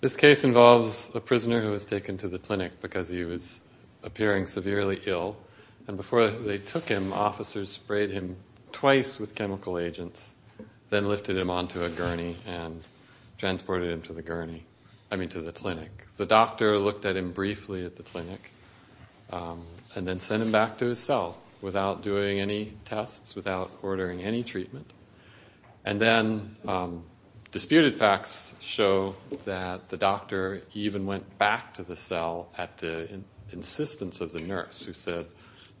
This case involves a prisoner who was taken to the clinic because he was appearing severely ill. And before they took him, officers sprayed him twice with chemical agents, then lifted him onto a gurney and transported him to the clinic. The doctor looked at him briefly at the clinic and then sent him back to his cell without doing any tests, without ordering any treatment. And then disputed facts show that the doctor even went back to the cell at the insistence of the nurse, who said,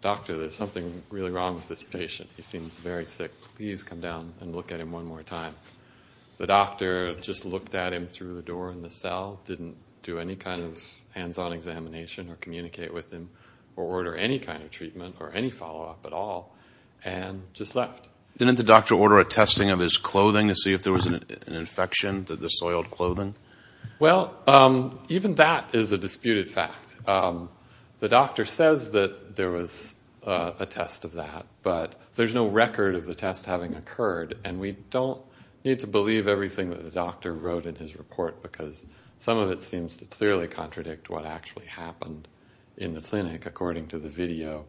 Doctor, there's something really wrong with this patient. He seems very sick. Please come down and look at him one more time. The doctor just looked at him through the door in the cell, didn't do any kind of hands-on examination or communicate with him or order any kind of treatment or any follow-up at all, and just left. Didn't the doctor order a testing of his clothing to see if there was an infection to the soiled clothing? Well, even that is a disputed fact. The doctor says that there was a test of that, but there's no record of the test having occurred. And we don't need to believe everything that the doctor wrote in his report, because some of it seems to clearly contradict what actually happened in the clinic, according to the video.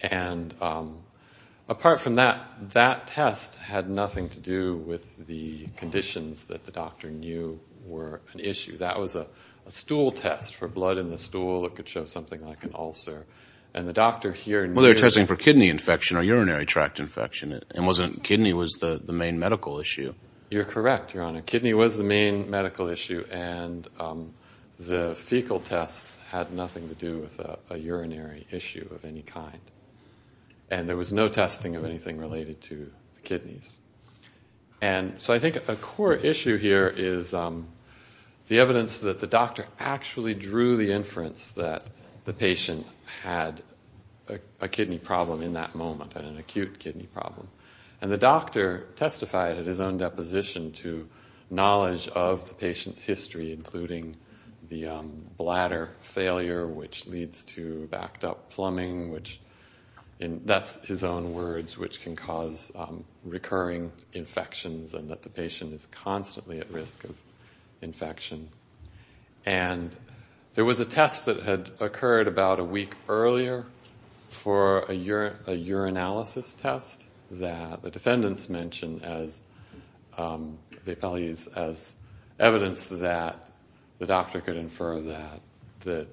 And apart from that, that test had nothing to do with the conditions that the doctor knew were an issue. That was a stool test for blood in the stool. It could show something like an ulcer. And the doctor here knew... You're correct, Your Honor. Kidney was the main medical issue, and the fecal test had nothing to do with a urinary issue of any kind. And there was no testing of anything related to the kidneys. And so I think a core issue here is the evidence that the doctor actually drew the inference that the patient had a kidney problem in that moment, an acute kidney problem. And the doctor testified at his own deposition to knowledge of the patient's history, including the bladder failure, which leads to backed-up plumbing, which in... That's his own words, which can cause recurring infections, and that the patient is constantly at risk of infection. And there was a test that had occurred about a week earlier for a urinalysis test that the defendants mentioned as evidence that the doctor could infer that the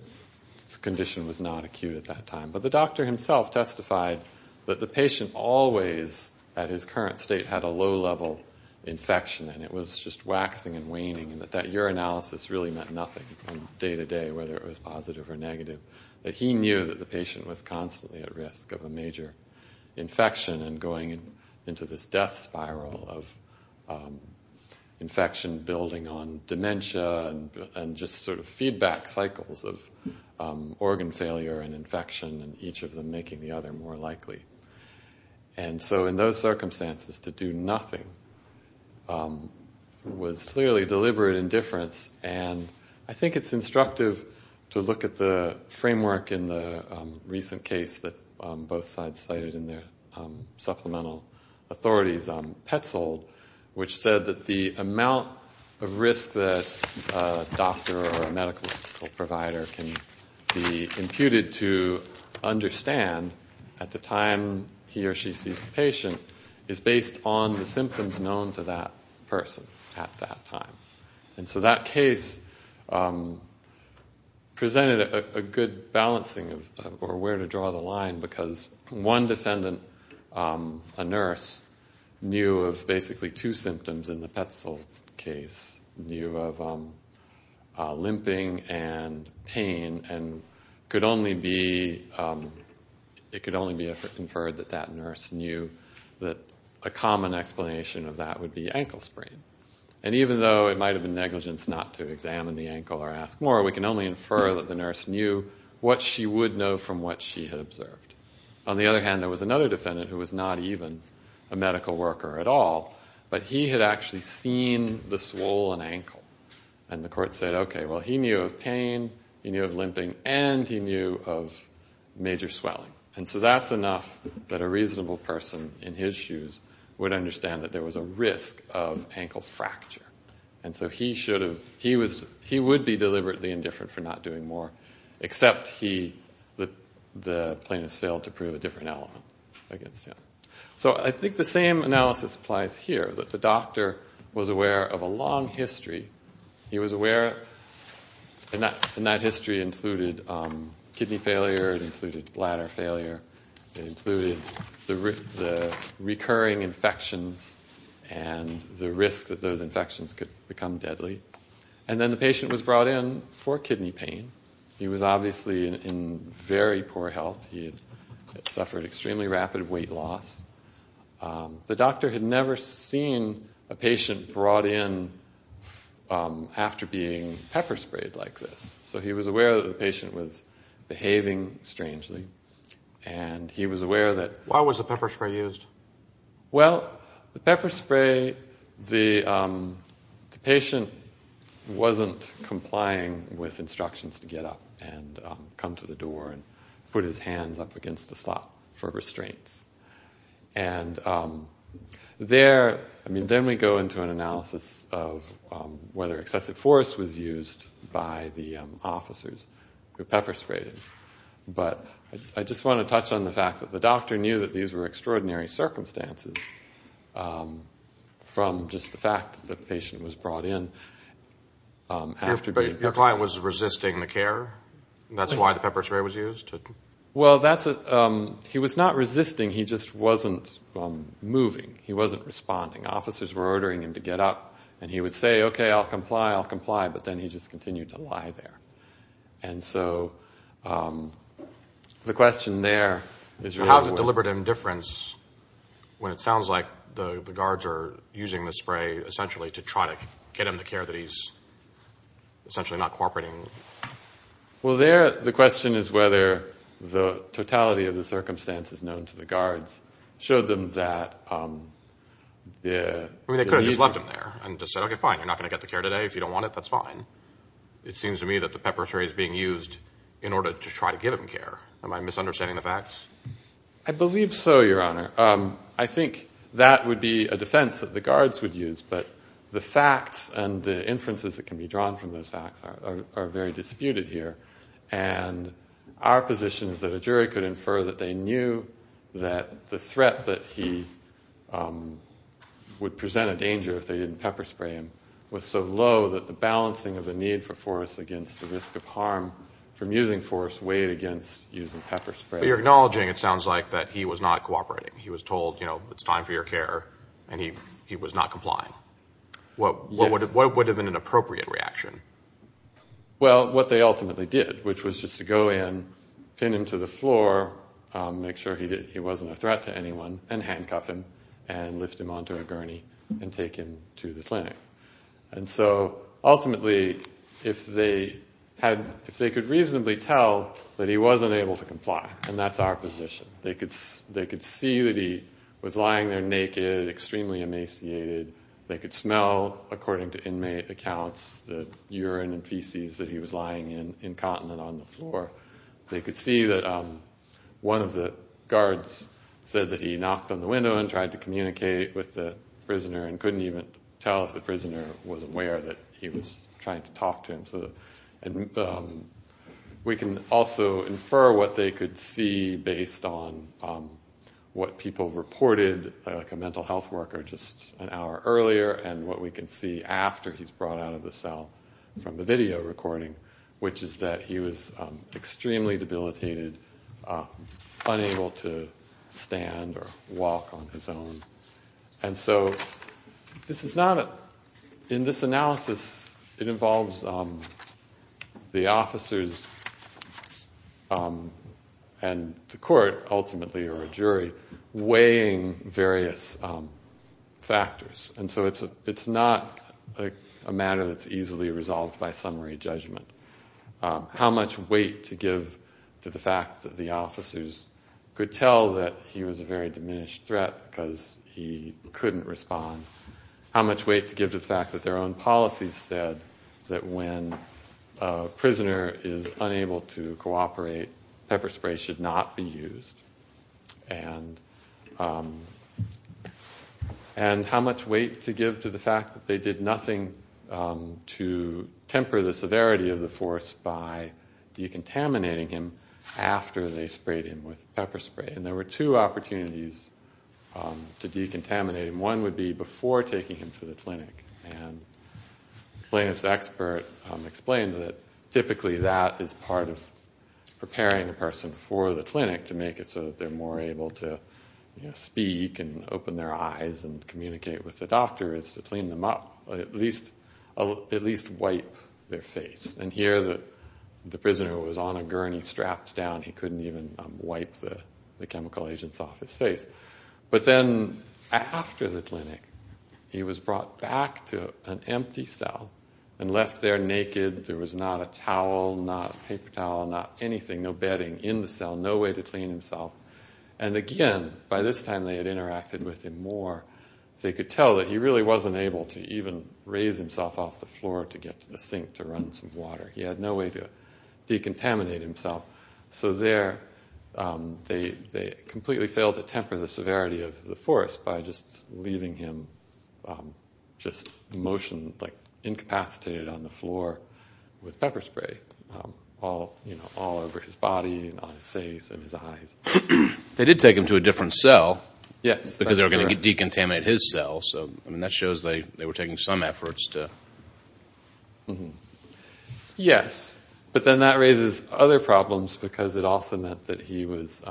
condition was not acute at that time. But the doctor himself testified that the patient always, at his current state, had a low-level infection, and it was just waxing and waning, and that urinalysis really meant nothing from day-to-day, whether it was positive or negative, that he knew that the patient was constantly at risk of a major infection and going into this death spiral of infection, building on dementia, and just sort of feedback cycles of organ failure and infection, and each of them making the other more likely. And so in those circumstances, to do nothing was clearly deliberate indifference, and I think it's instructive to look at the framework in the recent case that both sides cited in their supplemental authorities, Petzold, which said that the amount of risk that a doctor or a medical provider can be imputed to understand at the time he or she sees a patient is based on the symptoms known to that person at that time. And so that case presented a good balancing of where to draw the line, because one defendant, a nurse, knew of basically two symptoms in the Petzold case, knew of low-level infection limping and pain, and it could only be inferred that that nurse knew that a common explanation of that would be ankle sprain. And even though it might have been negligence not to examine the ankle or ask more, we can only infer that the nurse knew what she would know from what she had observed. On the other hand, there was another defendant who was not even a medical worker at all, but he had actually seen the swollen ankle, and the court said, okay, well, he knew of pain, he knew of limping, and he knew of major swelling. And so that's enough that a reasonable person in his shoes would understand that there was a risk of ankle fracture. And so he should have, he would be deliberately indifferent for not doing more, except he, the plaintiff failed to prove a different element against him. So I think the same analysis applies here, that the doctor was aware of a long history. He was aware, and that history included kidney failure, it included bladder failure, it included the recurring infections and the risk that those infections could become deadly. And then the patient was brought in for kidney pain. He was obviously in very poor health. He had suffered extremely rapid weight loss. The doctor had never seen a patient brought in after being pepper sprayed like this. So he was aware that the patient was behaving strangely, and he was aware that... Why was the pepper spray used? Well, the pepper spray, the patient wasn't complying with instructions to get up and come to the door and put his hands up against the slot for restraints. And there, I mean, then we go into an analysis of whether excessive force was used by the officers who pepper sprayed him. But I just want to touch on the fact that the doctor knew that these were extraordinary circumstances from just the fact that the patient was brought in after being pepper sprayed. He was resisting the care? That's why the pepper spray was used? Well, he was not resisting. He just wasn't moving. He wasn't responding. Officers were ordering him to get up, and he would say, okay, I'll comply, I'll comply, but then he just continued to lie there. And so the question there is... How is it deliberate indifference when it sounds like the guards are using the spray essentially to try to get him the care that he's essentially not cooperating with? Well, there, the question is whether the totality of the circumstances known to the guards showed them that... I mean, they could have just left him there and just said, okay, fine, you're not going to get the care today. If you don't want it, that's fine. It seems to me that the pepper spray is being used in order to try to give him care. Am I misunderstanding the facts? I believe so, Your Honor. I think that would be a defense that the guards would use, but the facts and the inferences that can be drawn from those facts are very disputed here. And our position is that a jury could infer that they knew that the threat that he would present a danger if they didn't pepper spray him was so low that the balancing of the need for force against the risk of harm from using force weighed against using pepper spray. But you're acknowledging, it sounds like, that he was not cooperating. He was told, you know, it's time for your care, and he was not complying. What would have been an appropriate reaction? Well, what they ultimately did, which was just to go in, pin him to the floor, make sure he wasn't a threat to anyone, and handcuff him and lift him onto a gurney and take him to the clinic. And so, ultimately, if they could reasonably tell that he wasn't able to comply. And that's our position. They could see that he was lying there naked, extremely emaciated. They could smell, according to inmate accounts, the urine and feces that he was lying in, incontinent, on the floor. They could see that one of the guards said that he knocked on the window and tried to communicate with the prisoner and couldn't even tell if the prisoner was aware that he was trying to talk to him. We can also infer what they could see based on what people reported, like a mental health worker just an hour earlier, and what we can see after he's brought out of the cell from the video recording, which is that he was extremely debilitated, unable to stand or move. The officers and the court, ultimately, or a jury, weighing various factors. And so it's not a matter that's easily resolved by summary judgment. How much weight to give to the fact that the officers could tell that he was a very diminished threat because he a prisoner is unable to cooperate, pepper spray should not be used. And how much weight to give to the fact that they did nothing to temper the severity of the force by decontaminating him after they sprayed him with pepper spray. And there were two opportunities to decontaminate him. One would be before taking him to the clinic. And the plaintiff's expert explained that typically that is part of preparing a person for the clinic to make it so that they're more able to speak and open their eyes and communicate with the doctor is to clean them up, at least wipe their face. And here the prisoner was on a gurney strapped down. He couldn't even wipe the chemical agents off his face. But then after the clinic, he was brought back to an empty cell and left there naked. There was not a towel, not a paper towel, not anything, no bedding in the cell, no way to clean himself. And again, by this time they had interacted with him more. They could tell that he really wasn't able to even raise himself off the floor to get to the sink to run some water. He had no way to decontaminate himself. So there they completely failed to temper the severity of the force by just leaving him just motioned, like incapacitated on the floor with pepper spray all over his body, on his face, in his eyes. They did take him to a different cell. Yes, that's correct. Because they were going to decontaminate his cell. So I mean, that shows they were taking some efforts to... Yes. But then that raises other problems, because it also meant that he was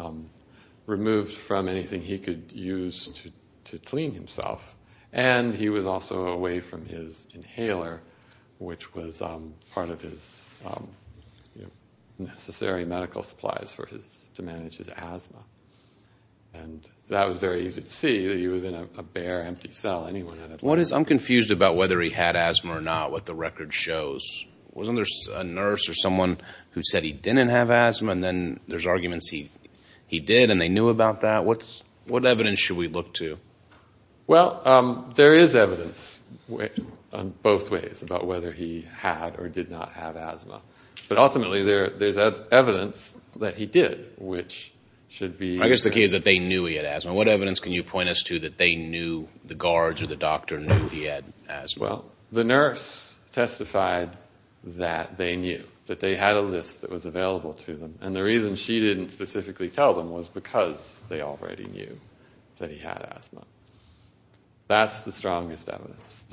removed from anything he could use to clean himself. And he was also away from his inhaler, which was part of his necessary medical supplies to manage his asthma. And that was very easy to see. He was in a bare, empty cell. Anyone could... I'm confused about whether he had asthma or not, what the record shows. Wasn't there a nurse or someone who said he didn't have asthma, and then there's arguments he did and they knew about that? What evidence should we look to? Well, there is evidence on both ways about whether he had or did not have asthma. But ultimately, there's evidence that he did, which should be... I guess the key is that they knew he had asthma. What evidence can you point us to that they knew, the guards or the doctor knew he had asthma? Well, the nurse testified that they knew, that they had a list that was available to them. And the reason she didn't specifically tell them was because they already knew that he had asthma. That's the strongest evidence.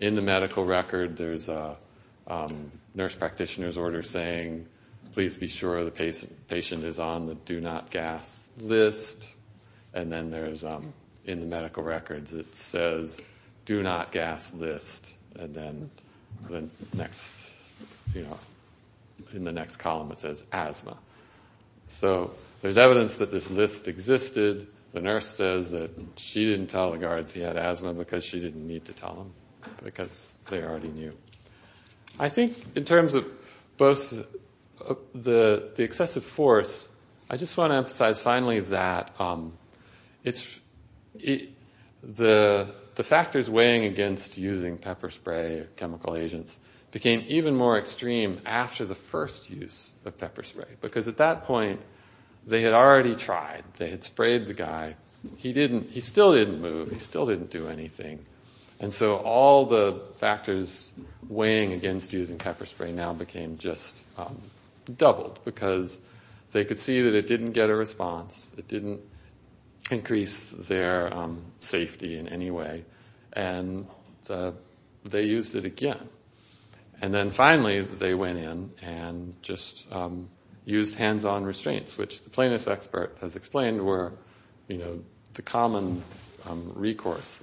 In the medical record, there's a nurse practitioner's order saying, please be sure the patient is on the do not gas list. And then in the medical records it says, do not gas list. And then in the next column it says asthma. So there's evidence that this list existed. The nurse says that she didn't tell the guards he had asthma because she didn't need to tell them, because they already knew. I think in terms of both the excessive force, I just want to emphasize finally that the factors weighing against using pepper spray or chemical agents became even more extreme after the first use of pepper spray. Because at that point, they had already tried. They had sprayed the guy. He still didn't move. He still didn't do anything. And so all the factors weighing against using pepper spray now became just doubled, because they could see that it didn't get a response. It didn't increase their safety in any way. And they used it again. And then finally they went in and just used hands-on restraints, which the plaintiff's expert has explained were the common recourse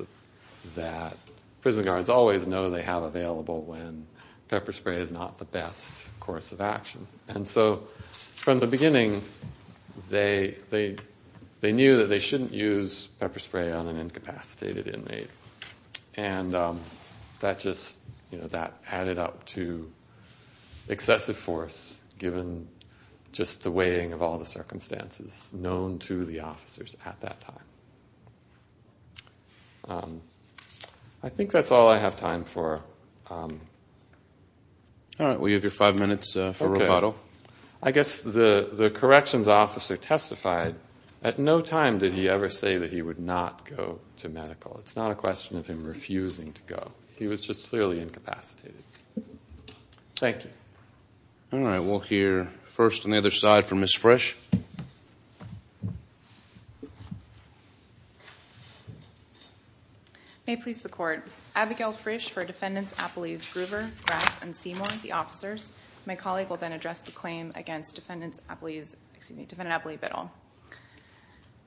that prison guards always know they have available when pepper spray is not the best course of action. And so from the beginning, they knew that they shouldn't use pepper spray on an incapacitated inmate. And that just added up to excessive force given just the weighing of all the circumstances known to the officers at that time. I think that's all I have time for. All right. We have your five minutes for rebuttal. I guess the corrections officer testified at no time did he ever say that he would not go to medical. It's not a question of him refusing to go. He was just clearly incapacitated. Thank you. All right. We'll hear first on the other side from Ms. Frisch. May it please the court. Abigail Frisch for Defendants Appellees Groover, Grass, and Seymour, the officers. My colleague will then address the claim against Defendant Appellee Biddle.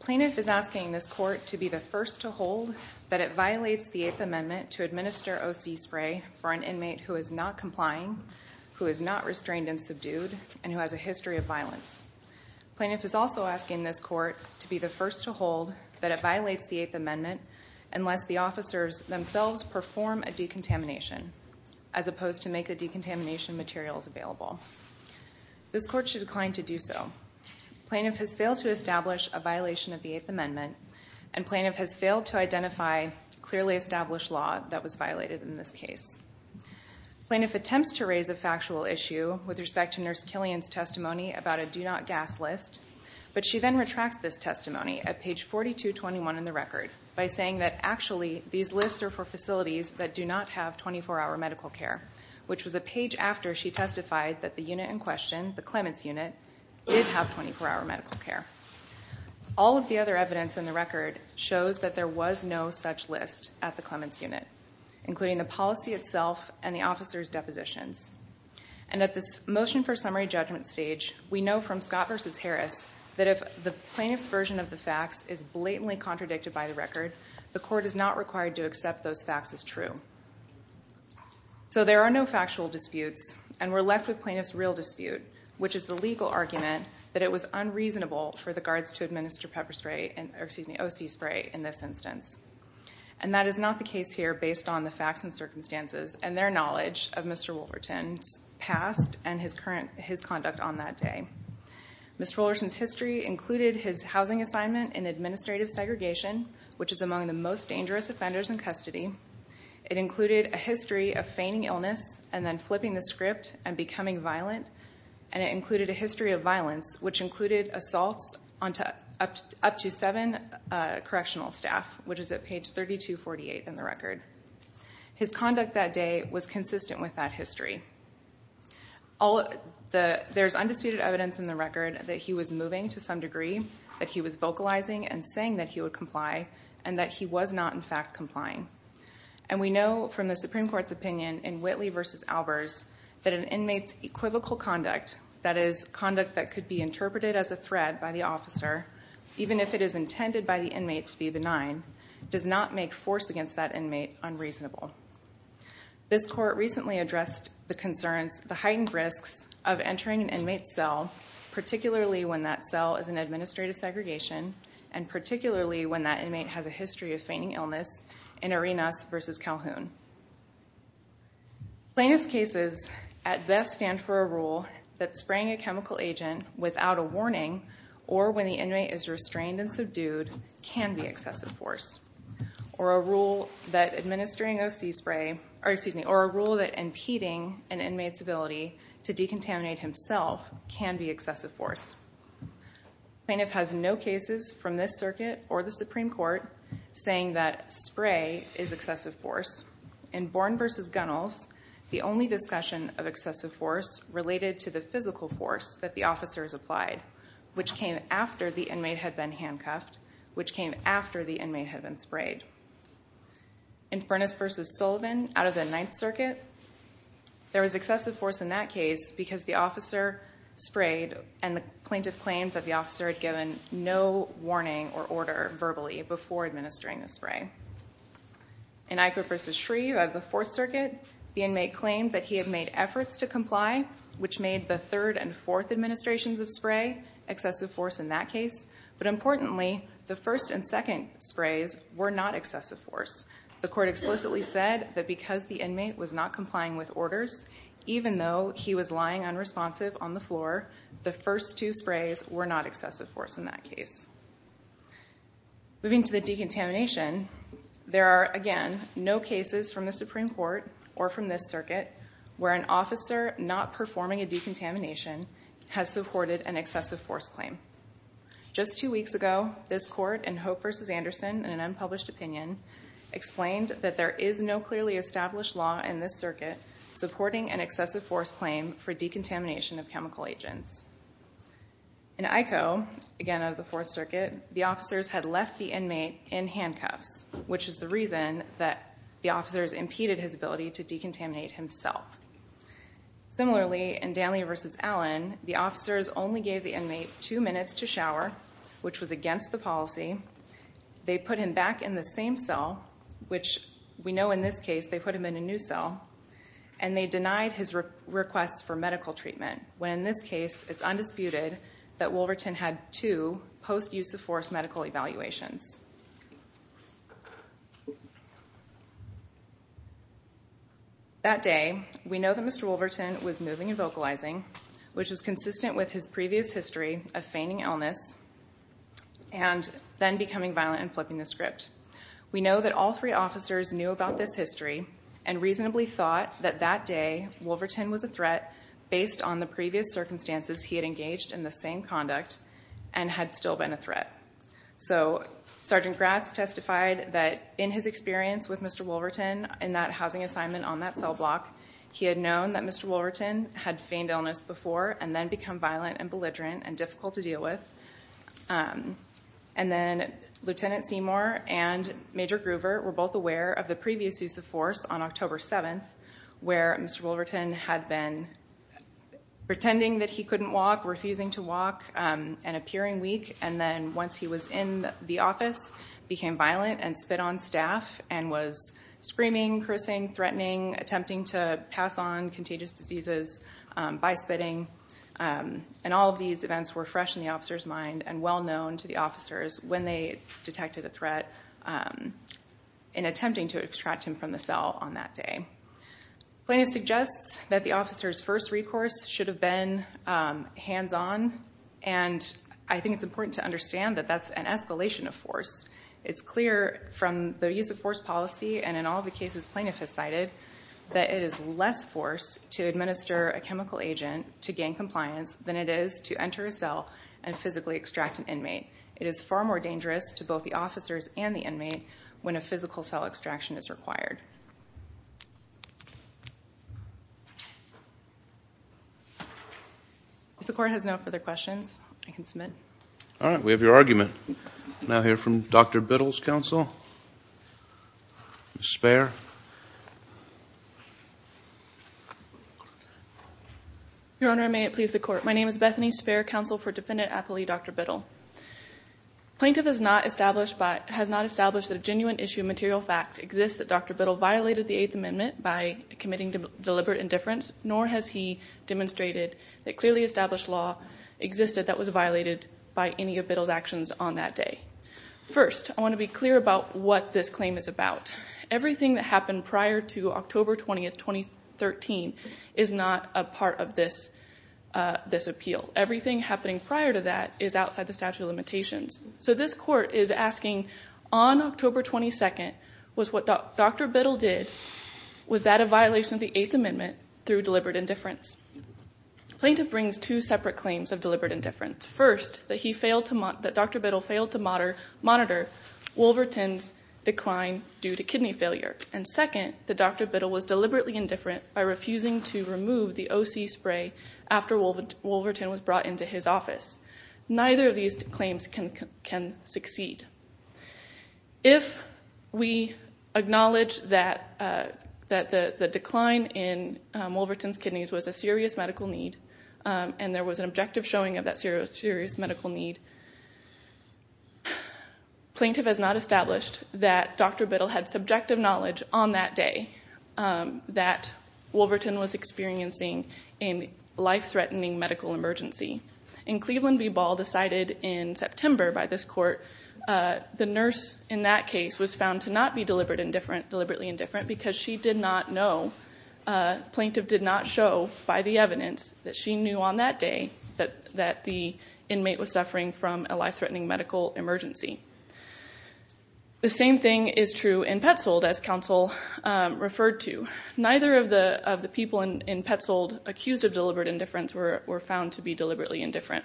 Plaintiff is asking this court to be the first to hold that it violates the Eighth Amendment to administer OC spray for an inmate who is not complying, who is not restrained and subdued, and who has a history of violence. Plaintiff is also asking this court to be the first to hold that it violates the Eighth Amendment unless the officers themselves perform a decontamination as opposed to make the decontamination materials available. This court should decline to do so. Plaintiff has failed to establish a violation of the Eighth Amendment and plaintiff has failed to identify a clearly established law that was violated in this case. Plaintiff attempts to raise a factual issue with respect to Nurse Killian's testimony about a do not gas list, but she then retracts this testimony at page 4221 in the record by saying that actually these lists are for facilities that do not have 24-hour medical care, which was a page after she testified that the unit in question, the Clements unit, did have 24-hour medical care. All of the other evidence in the record shows that there was no such list at the Clements unit, including the policy itself and the officers' depositions. And at this motion for summary judgment stage, we know from Scott v. Harris that if the plaintiff's version of the facts is blatantly contradicted by the record, the court is not required to accept those facts as true. So there are no factual disputes and we're left with plaintiff's real dispute, which is the legal argument that it was unreasonable for the guards to administer O.C. spray in this instance. And that is not the case here based on the facts and circumstances and their knowledge of Mr. Woolverton's past and his conduct on that day. Mr. Woolverton's history included his housing assignment in administrative segregation, which is among the most dangerous offenders in custody. It included a history of feigning illness and then flipping the script and becoming violent. And it included a history of violence, which included assaults up to seven correctional staff, which is at page 3248 in the record. His conduct that day was consistent with that history. There's undisputed evidence in the record that he was moving to some degree, that he was vocalizing and saying that he would comply and that he was not, in fact, complying. And we know from the Supreme Court's opinion in Whitley v. Albers that an inmate's equivocal conduct, that is, conduct that could be interpreted as a threat by the officer, even if it is intended by the inmate to be benign, does not make force against that inmate unreasonable. This court recently addressed the concerns, the heightened risks of entering an inmate's cell, particularly when that cell is in administrative segregation, and particularly when that inmate has a history of feigning illness in Arenas v. Calhoun. Plaintiff's cases at best stand for a rule that spraying a chemical agent without a warning or when the inmate is restrained and subdued can be excessive force, or a rule that impeding an inmate's ability to decontaminate himself can be excessive force. Plaintiff has no cases from this circuit or the Supreme Court saying that spray is excessive force. In Bourne v. Gunnels, the only discussion of excessive force related to the physical force that the officers applied, which came after the inmate had been handcuffed, which came after the inmate had been sprayed. In Furness v. Sullivan, out of the Ninth Circuit, there was excessive force in that case because the officer sprayed and the plaintiff claimed that the officer had given no warning or order verbally before administering the spray. In Iker v. Shreve, out of the Fourth Circuit, the inmate claimed that he had made efforts to comply, which made the third and fourth administrations of spray excessive force in that case, but importantly, the first and second sprays were not excessive force. The court explicitly said that because the inmate was not complying with orders, even though he was lying unresponsive on the floor, the first two sprays were not excessive force in that case. Moving to the decontamination, there are, again, no cases from the Supreme Court or from this circuit where an officer not performing a decontamination has supported an excessive force claim. Just two weeks ago, this court in Hope v. Anderson, in an unpublished opinion, explained that there is no clearly established law in this circuit supporting an excessive force claim for decontamination of chemical agents. In Iko, again, out of the Fourth Circuit, the officers had left the inmate in handcuffs, which is the reason that the officers impeded his ability to decontaminate himself. Similarly, in Danley v. Allen, the officers only gave the inmate two minutes to shower, which was against the policy. They put him back in the same cell, which we know in this case they put him in a new cell, and they denied his request for medical treatment, when in this case it's undisputed that Wolverton had two post-use-of-force medical evaluations. That day, we know that Mr. Wolverton was moving and vocalizing, which was consistent with his previous history of feigning illness and then becoming violent and flipping the script. We know that all three officers knew about this history and reasonably thought that that day, Wolverton was a threat based on the previous circumstances he had engaged in the same conduct and had still been a threat. So, Sgt. Gratz testified that in his experience with Mr. Wolverton in that housing assignment on that cell block, he had known that Mr. Wolverton had feigned illness before and then become violent and belligerent and difficult to deal with. Lt. Seymour and Major Groover were both aware of the previous use of force on October 7th, where Mr. Wolverton had been pretending that he couldn't walk, refusing to walk, and appearing weak. And then once he was in the office, became violent and spit on staff and was screaming, cursing, threatening, attempting to pass on contagious diseases by spitting. And all of these events were fresh in the officer's mind and well known to the officers when they detected a threat in attempting to extract him from the cell on that day. Plaintiff suggests that the officer's first recourse should have been hands-on and I think it's important to understand that that's an escalation of force. It's clear from the use of force policy and in all the cases plaintiff has cited that it is less force to administer a chemical agent to gain compliance than it is to enter a cell and physically extract an inmate. It is far more dangerous to both the officers and the inmate when a physical cell extraction is required. If the court has no further questions, I can submit. All right, we have your argument. Now hear from Dr. Biddle's counsel, Ms. Speier. Your Honor, may it please the court. My name is Bethany Speier, counsel for Defendant Appley, Dr. Biddle. Plaintiff has not established that a genuine issue of material fact exists that Dr. Biddle violated the Eighth Amendment by committing deliberate indifference, nor has he demonstrated that clearly established law existed that was violated by any of Biddle's actions on that day. First, I want to be clear about what this claim is about. Everything that happened prior to October 20th, 2013 is not a part of this appeal. Everything happening prior to that is outside the statute of limitations. So this court is asking, on October 22nd, was what Dr. Biddle did, was that a violation of the Eighth Amendment through deliberate indifference? Plaintiff brings two separate claims of deliberate indifference. First, that Dr. Biddle failed to monitor Wolverton's decline due to kidney failure. And second, that Dr. Biddle was deliberately indifferent by refusing to remove the O.C. spray after Wolverton was brought into his office. Neither of these claims can succeed. If we acknowledge that the decline in Wolverton's kidneys was a serious medical need, and there was an objective showing of that serious medical need, plaintiff has not established that Dr. Biddle had subjective knowledge on that day that Wolverton was experiencing a life-threatening medical emergency. In Cleveland v. Ball, decided in September by this court, the nurse in that case was found to not be deliberately indifferent because she did not know, plaintiff did not show by the evidence that she knew on that day that the inmate was suffering from a life-threatening medical emergency. The same thing is true in Petzold, as counsel referred to. Neither of the people in Petzold accused of deliberate indifference were found to be deliberately indifferent.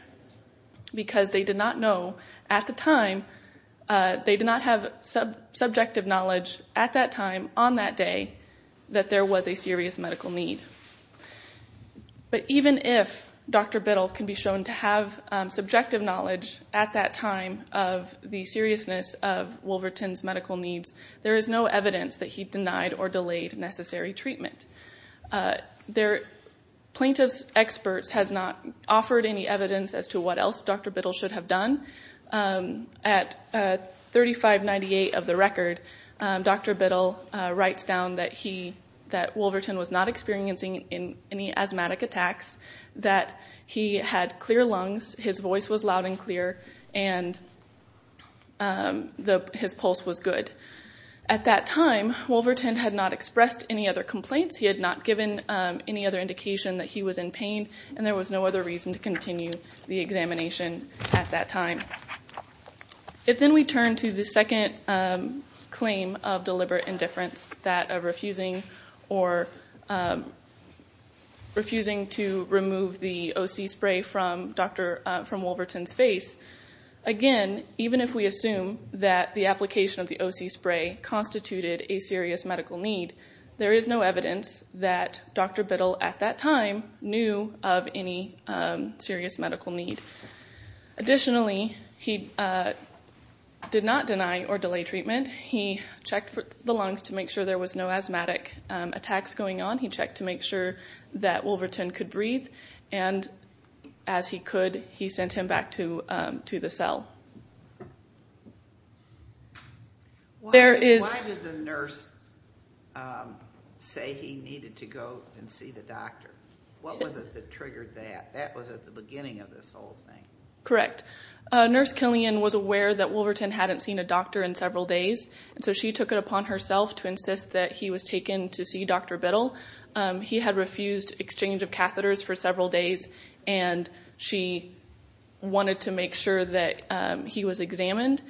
Because they did not know at the time, they did not have subjective knowledge at that time, on that day, that there was a serious medical need. But even if Dr. Biddle can be shown to have subjective knowledge at that time of the seriousness of Wolverton's medical needs, there is no evidence that he denied or delayed necessary treatment. Plaintiff's experts have not offered any evidence as to what else Dr. Biddle should have done. At 3598 of the record, Dr. Biddle writes down that Wolverton was not experiencing any asthmatic attacks, that he had clear lungs, his voice was loud and clear, and his pulse was good. At that time, Wolverton had not expressed any other complaints, he had not given any other indication that he was in pain, and there was no other reason to continue the examination at that time. If then we turn to the second claim of deliberate indifference, that of refusing to remove the O.C. spray from Wolverton's face, again, even if we assume that the application of the O.C. spray constituted a serious medical need, there is no evidence that Dr. Biddle at that time knew of any serious medical need. Additionally, he did not deny or delay treatment. He checked the lungs to make sure there was no asthmatic attacks going on, he checked to make sure that Wolverton could breathe, and as he could, he sent him back to the cell. Why did the nurse say he needed to go and see the doctor? What was it that triggered that? That was at the beginning of this whole thing. Correct. Nurse Killian was aware that Wolverton hadn't seen a doctor in several days, and so she took it upon herself to insist that he was taken to see Dr. Biddle. He had refused exchange of catheters for several days, and she wanted to make sure that he was examined,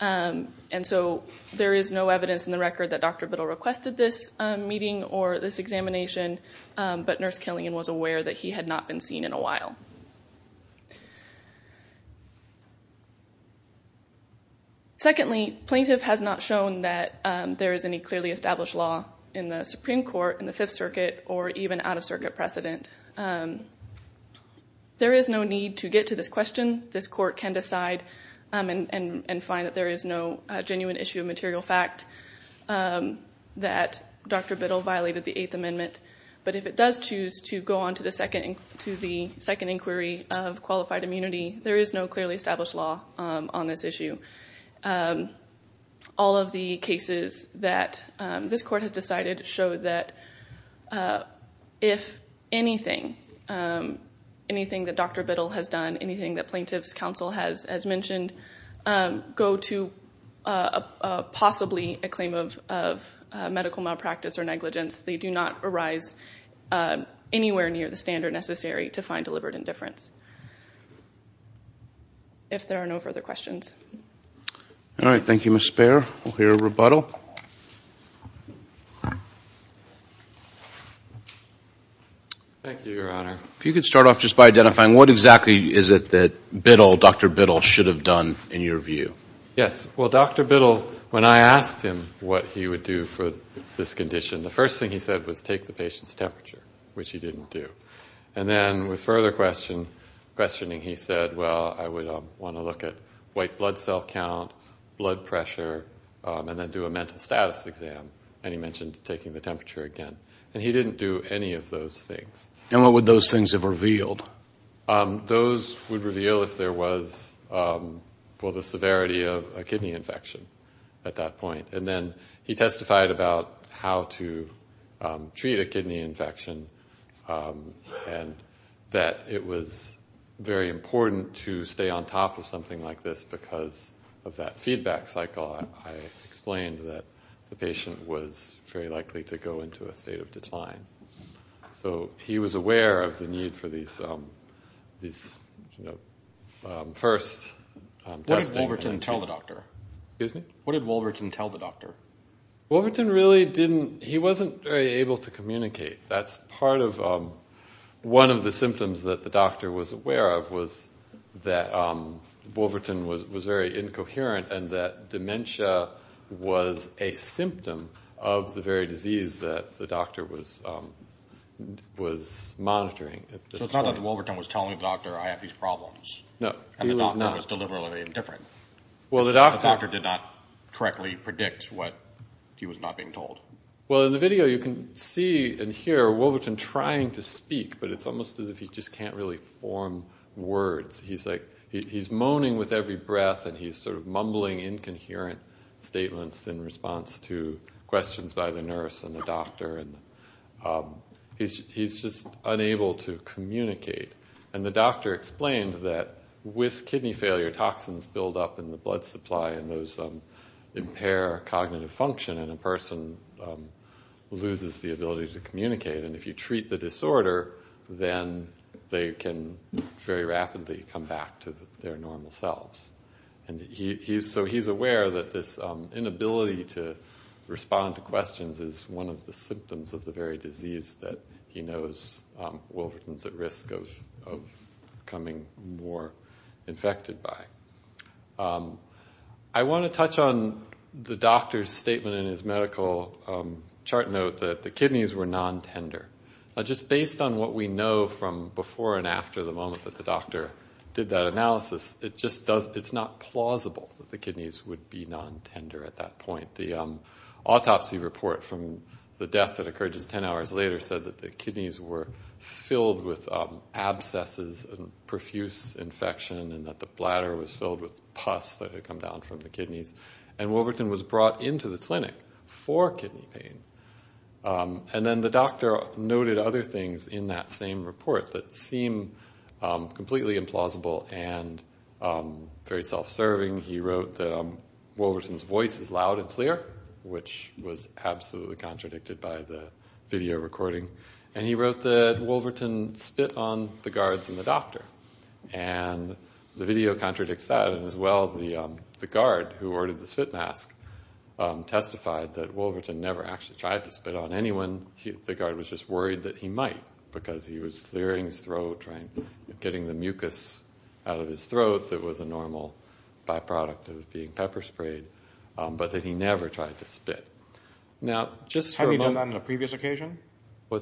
and so there is no evidence in the record that Dr. Biddle requested this meeting or this examination, but Nurse Killian was aware that he had not been seen in a while. Secondly, plaintiff has not shown that there is any clearly established law in the Supreme Court, in the Fifth Circuit, or even out of circuit precedent. There is no need to get to this question. This court can decide and find that there is no genuine issue of material fact that Dr. Biddle violated the Eighth Amendment, but if it does choose to go on to the second inquiry of qualified immunity, there is no clearly established law on this issue. All of the cases that this court has decided show that if anything, anything that Dr. Biddle has done, anything that plaintiff's counsel has mentioned, go to possibly a claim of medical malpractice or negligence, they do not arise anywhere near the standard necessary to find deliberate indifference. If there are no further questions. All right. Thank you, Ms. Speier. We'll hear a rebuttal. Thank you, Your Honor. If you could start off just by identifying what exactly is it that Biddle, Dr. Biddle, should have done in your view. Yes. Well, Dr. Biddle, when I asked him what he would do for this condition, the first thing he said was take the patient's temperature, which he didn't do. And then with further questioning, he said, well, I would want to look at white blood cell count, blood pressure, and then do a mental status exam. And he mentioned taking the temperature again. And he didn't do any of those things. And what would those things have revealed? Those would reveal if there was, well, the severity of a kidney infection at that point. And then he testified about how to treat a kidney infection and that it was very important to stay on top of something like this because of that feedback cycle. So I explained that the patient was very likely to go into a state of decline. So he was aware of the need for these first testing. What did Wolverton tell the doctor? Wolverton really didn't. He wasn't very able to communicate. That's part of one of the symptoms that the doctor was aware of was that Wolverton was very incoherent and that dementia was a symptom of the very disease that the doctor was monitoring at this point. So it's not that Wolverton was telling the doctor I have these problems. No, he was not. He was aware of Wolverton trying to speak, but it's almost as if he just can't really form words. He's moaning with every breath and he's sort of mumbling incoherent statements in response to questions by the nurse and the doctor. He's just unable to communicate. And the doctor explained that with kidney failure, toxins build up in the blood supply and those impair cognitive function and a person loses the ability to communicate. And if you treat the disorder, then they can very rapidly come back to their normal selves. So he's aware that this inability to respond to questions is one of the symptoms of the very disease that he knows Wolverton's at risk of becoming more infected by. I want to touch on the doctor's statement in his medical chart note that the kidneys were non-tender. Just based on what we know from before and after the moment that the doctor did that analysis, it's not plausible that the kidneys would be non-tender at that point. The autopsy report from the death that occurred just ten hours later said that the kidneys were filled with abscesses and profuse infection and that the bladder was filled with pus that had come down from the kidneys. And Wolverton was brought into the clinic for kidney pain. And then the doctor noted other things in that same report that seemed completely implausible and very self-serving. He wrote that Wolverton's voice is loud and clear, which was absolutely contradicted by the video recording. And he wrote that Wolverton spit on the guards and the doctor. And the video contradicts that, and as well, the guard who ordered the spit mask testified that Wolverton never actually tried to spit on anyone. The guard was just worried that he might because he was clearing his throat, getting the mucus out of his throat that was a normal byproduct of being pepper-sprayed, but that he never tried to spit. Have he done that on a previous occasion? I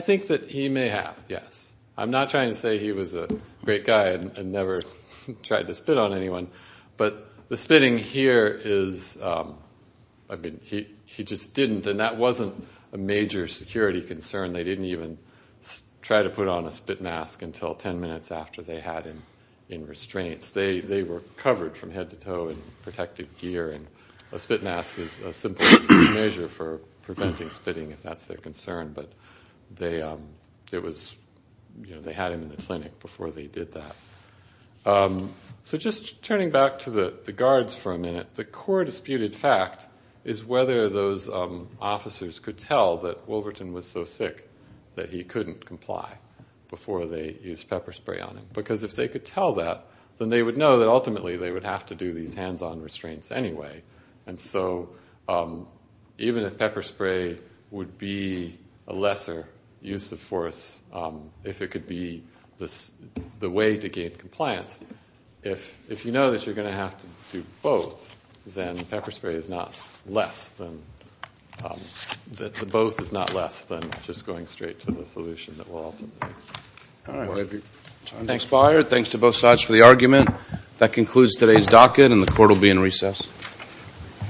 think that he may have, yes. I'm not trying to say he was a great guy and never tried to spit on anyone, but the spitting here is, I mean, he just didn't. And that wasn't a major security concern. They didn't even try to put on a spit mask until 10 minutes after they had him in restraints. They were covered from head to toe in protective gear, and a spit mask is a simple measure for preventing spitting, if that's their concern. But they had him in the clinic before they did that. So just turning back to the guards for a minute, the core disputed fact is whether those officers could tell that Wolverton was so sick. That he couldn't comply before they used pepper spray on him. Because if they could tell that, then they would know that ultimately they would have to do these hands-on restraints anyway. And so even if pepper spray would be a lesser use of force, if it could be the way to gain compliance, if you know that you're going to have to do both, then pepper spray is not less than just going to the hospital. So I'm going straight to the solution that will ultimately. Thanks, Bayer. Thanks to both sides for the argument. That concludes today's docket, and the court will be in recess.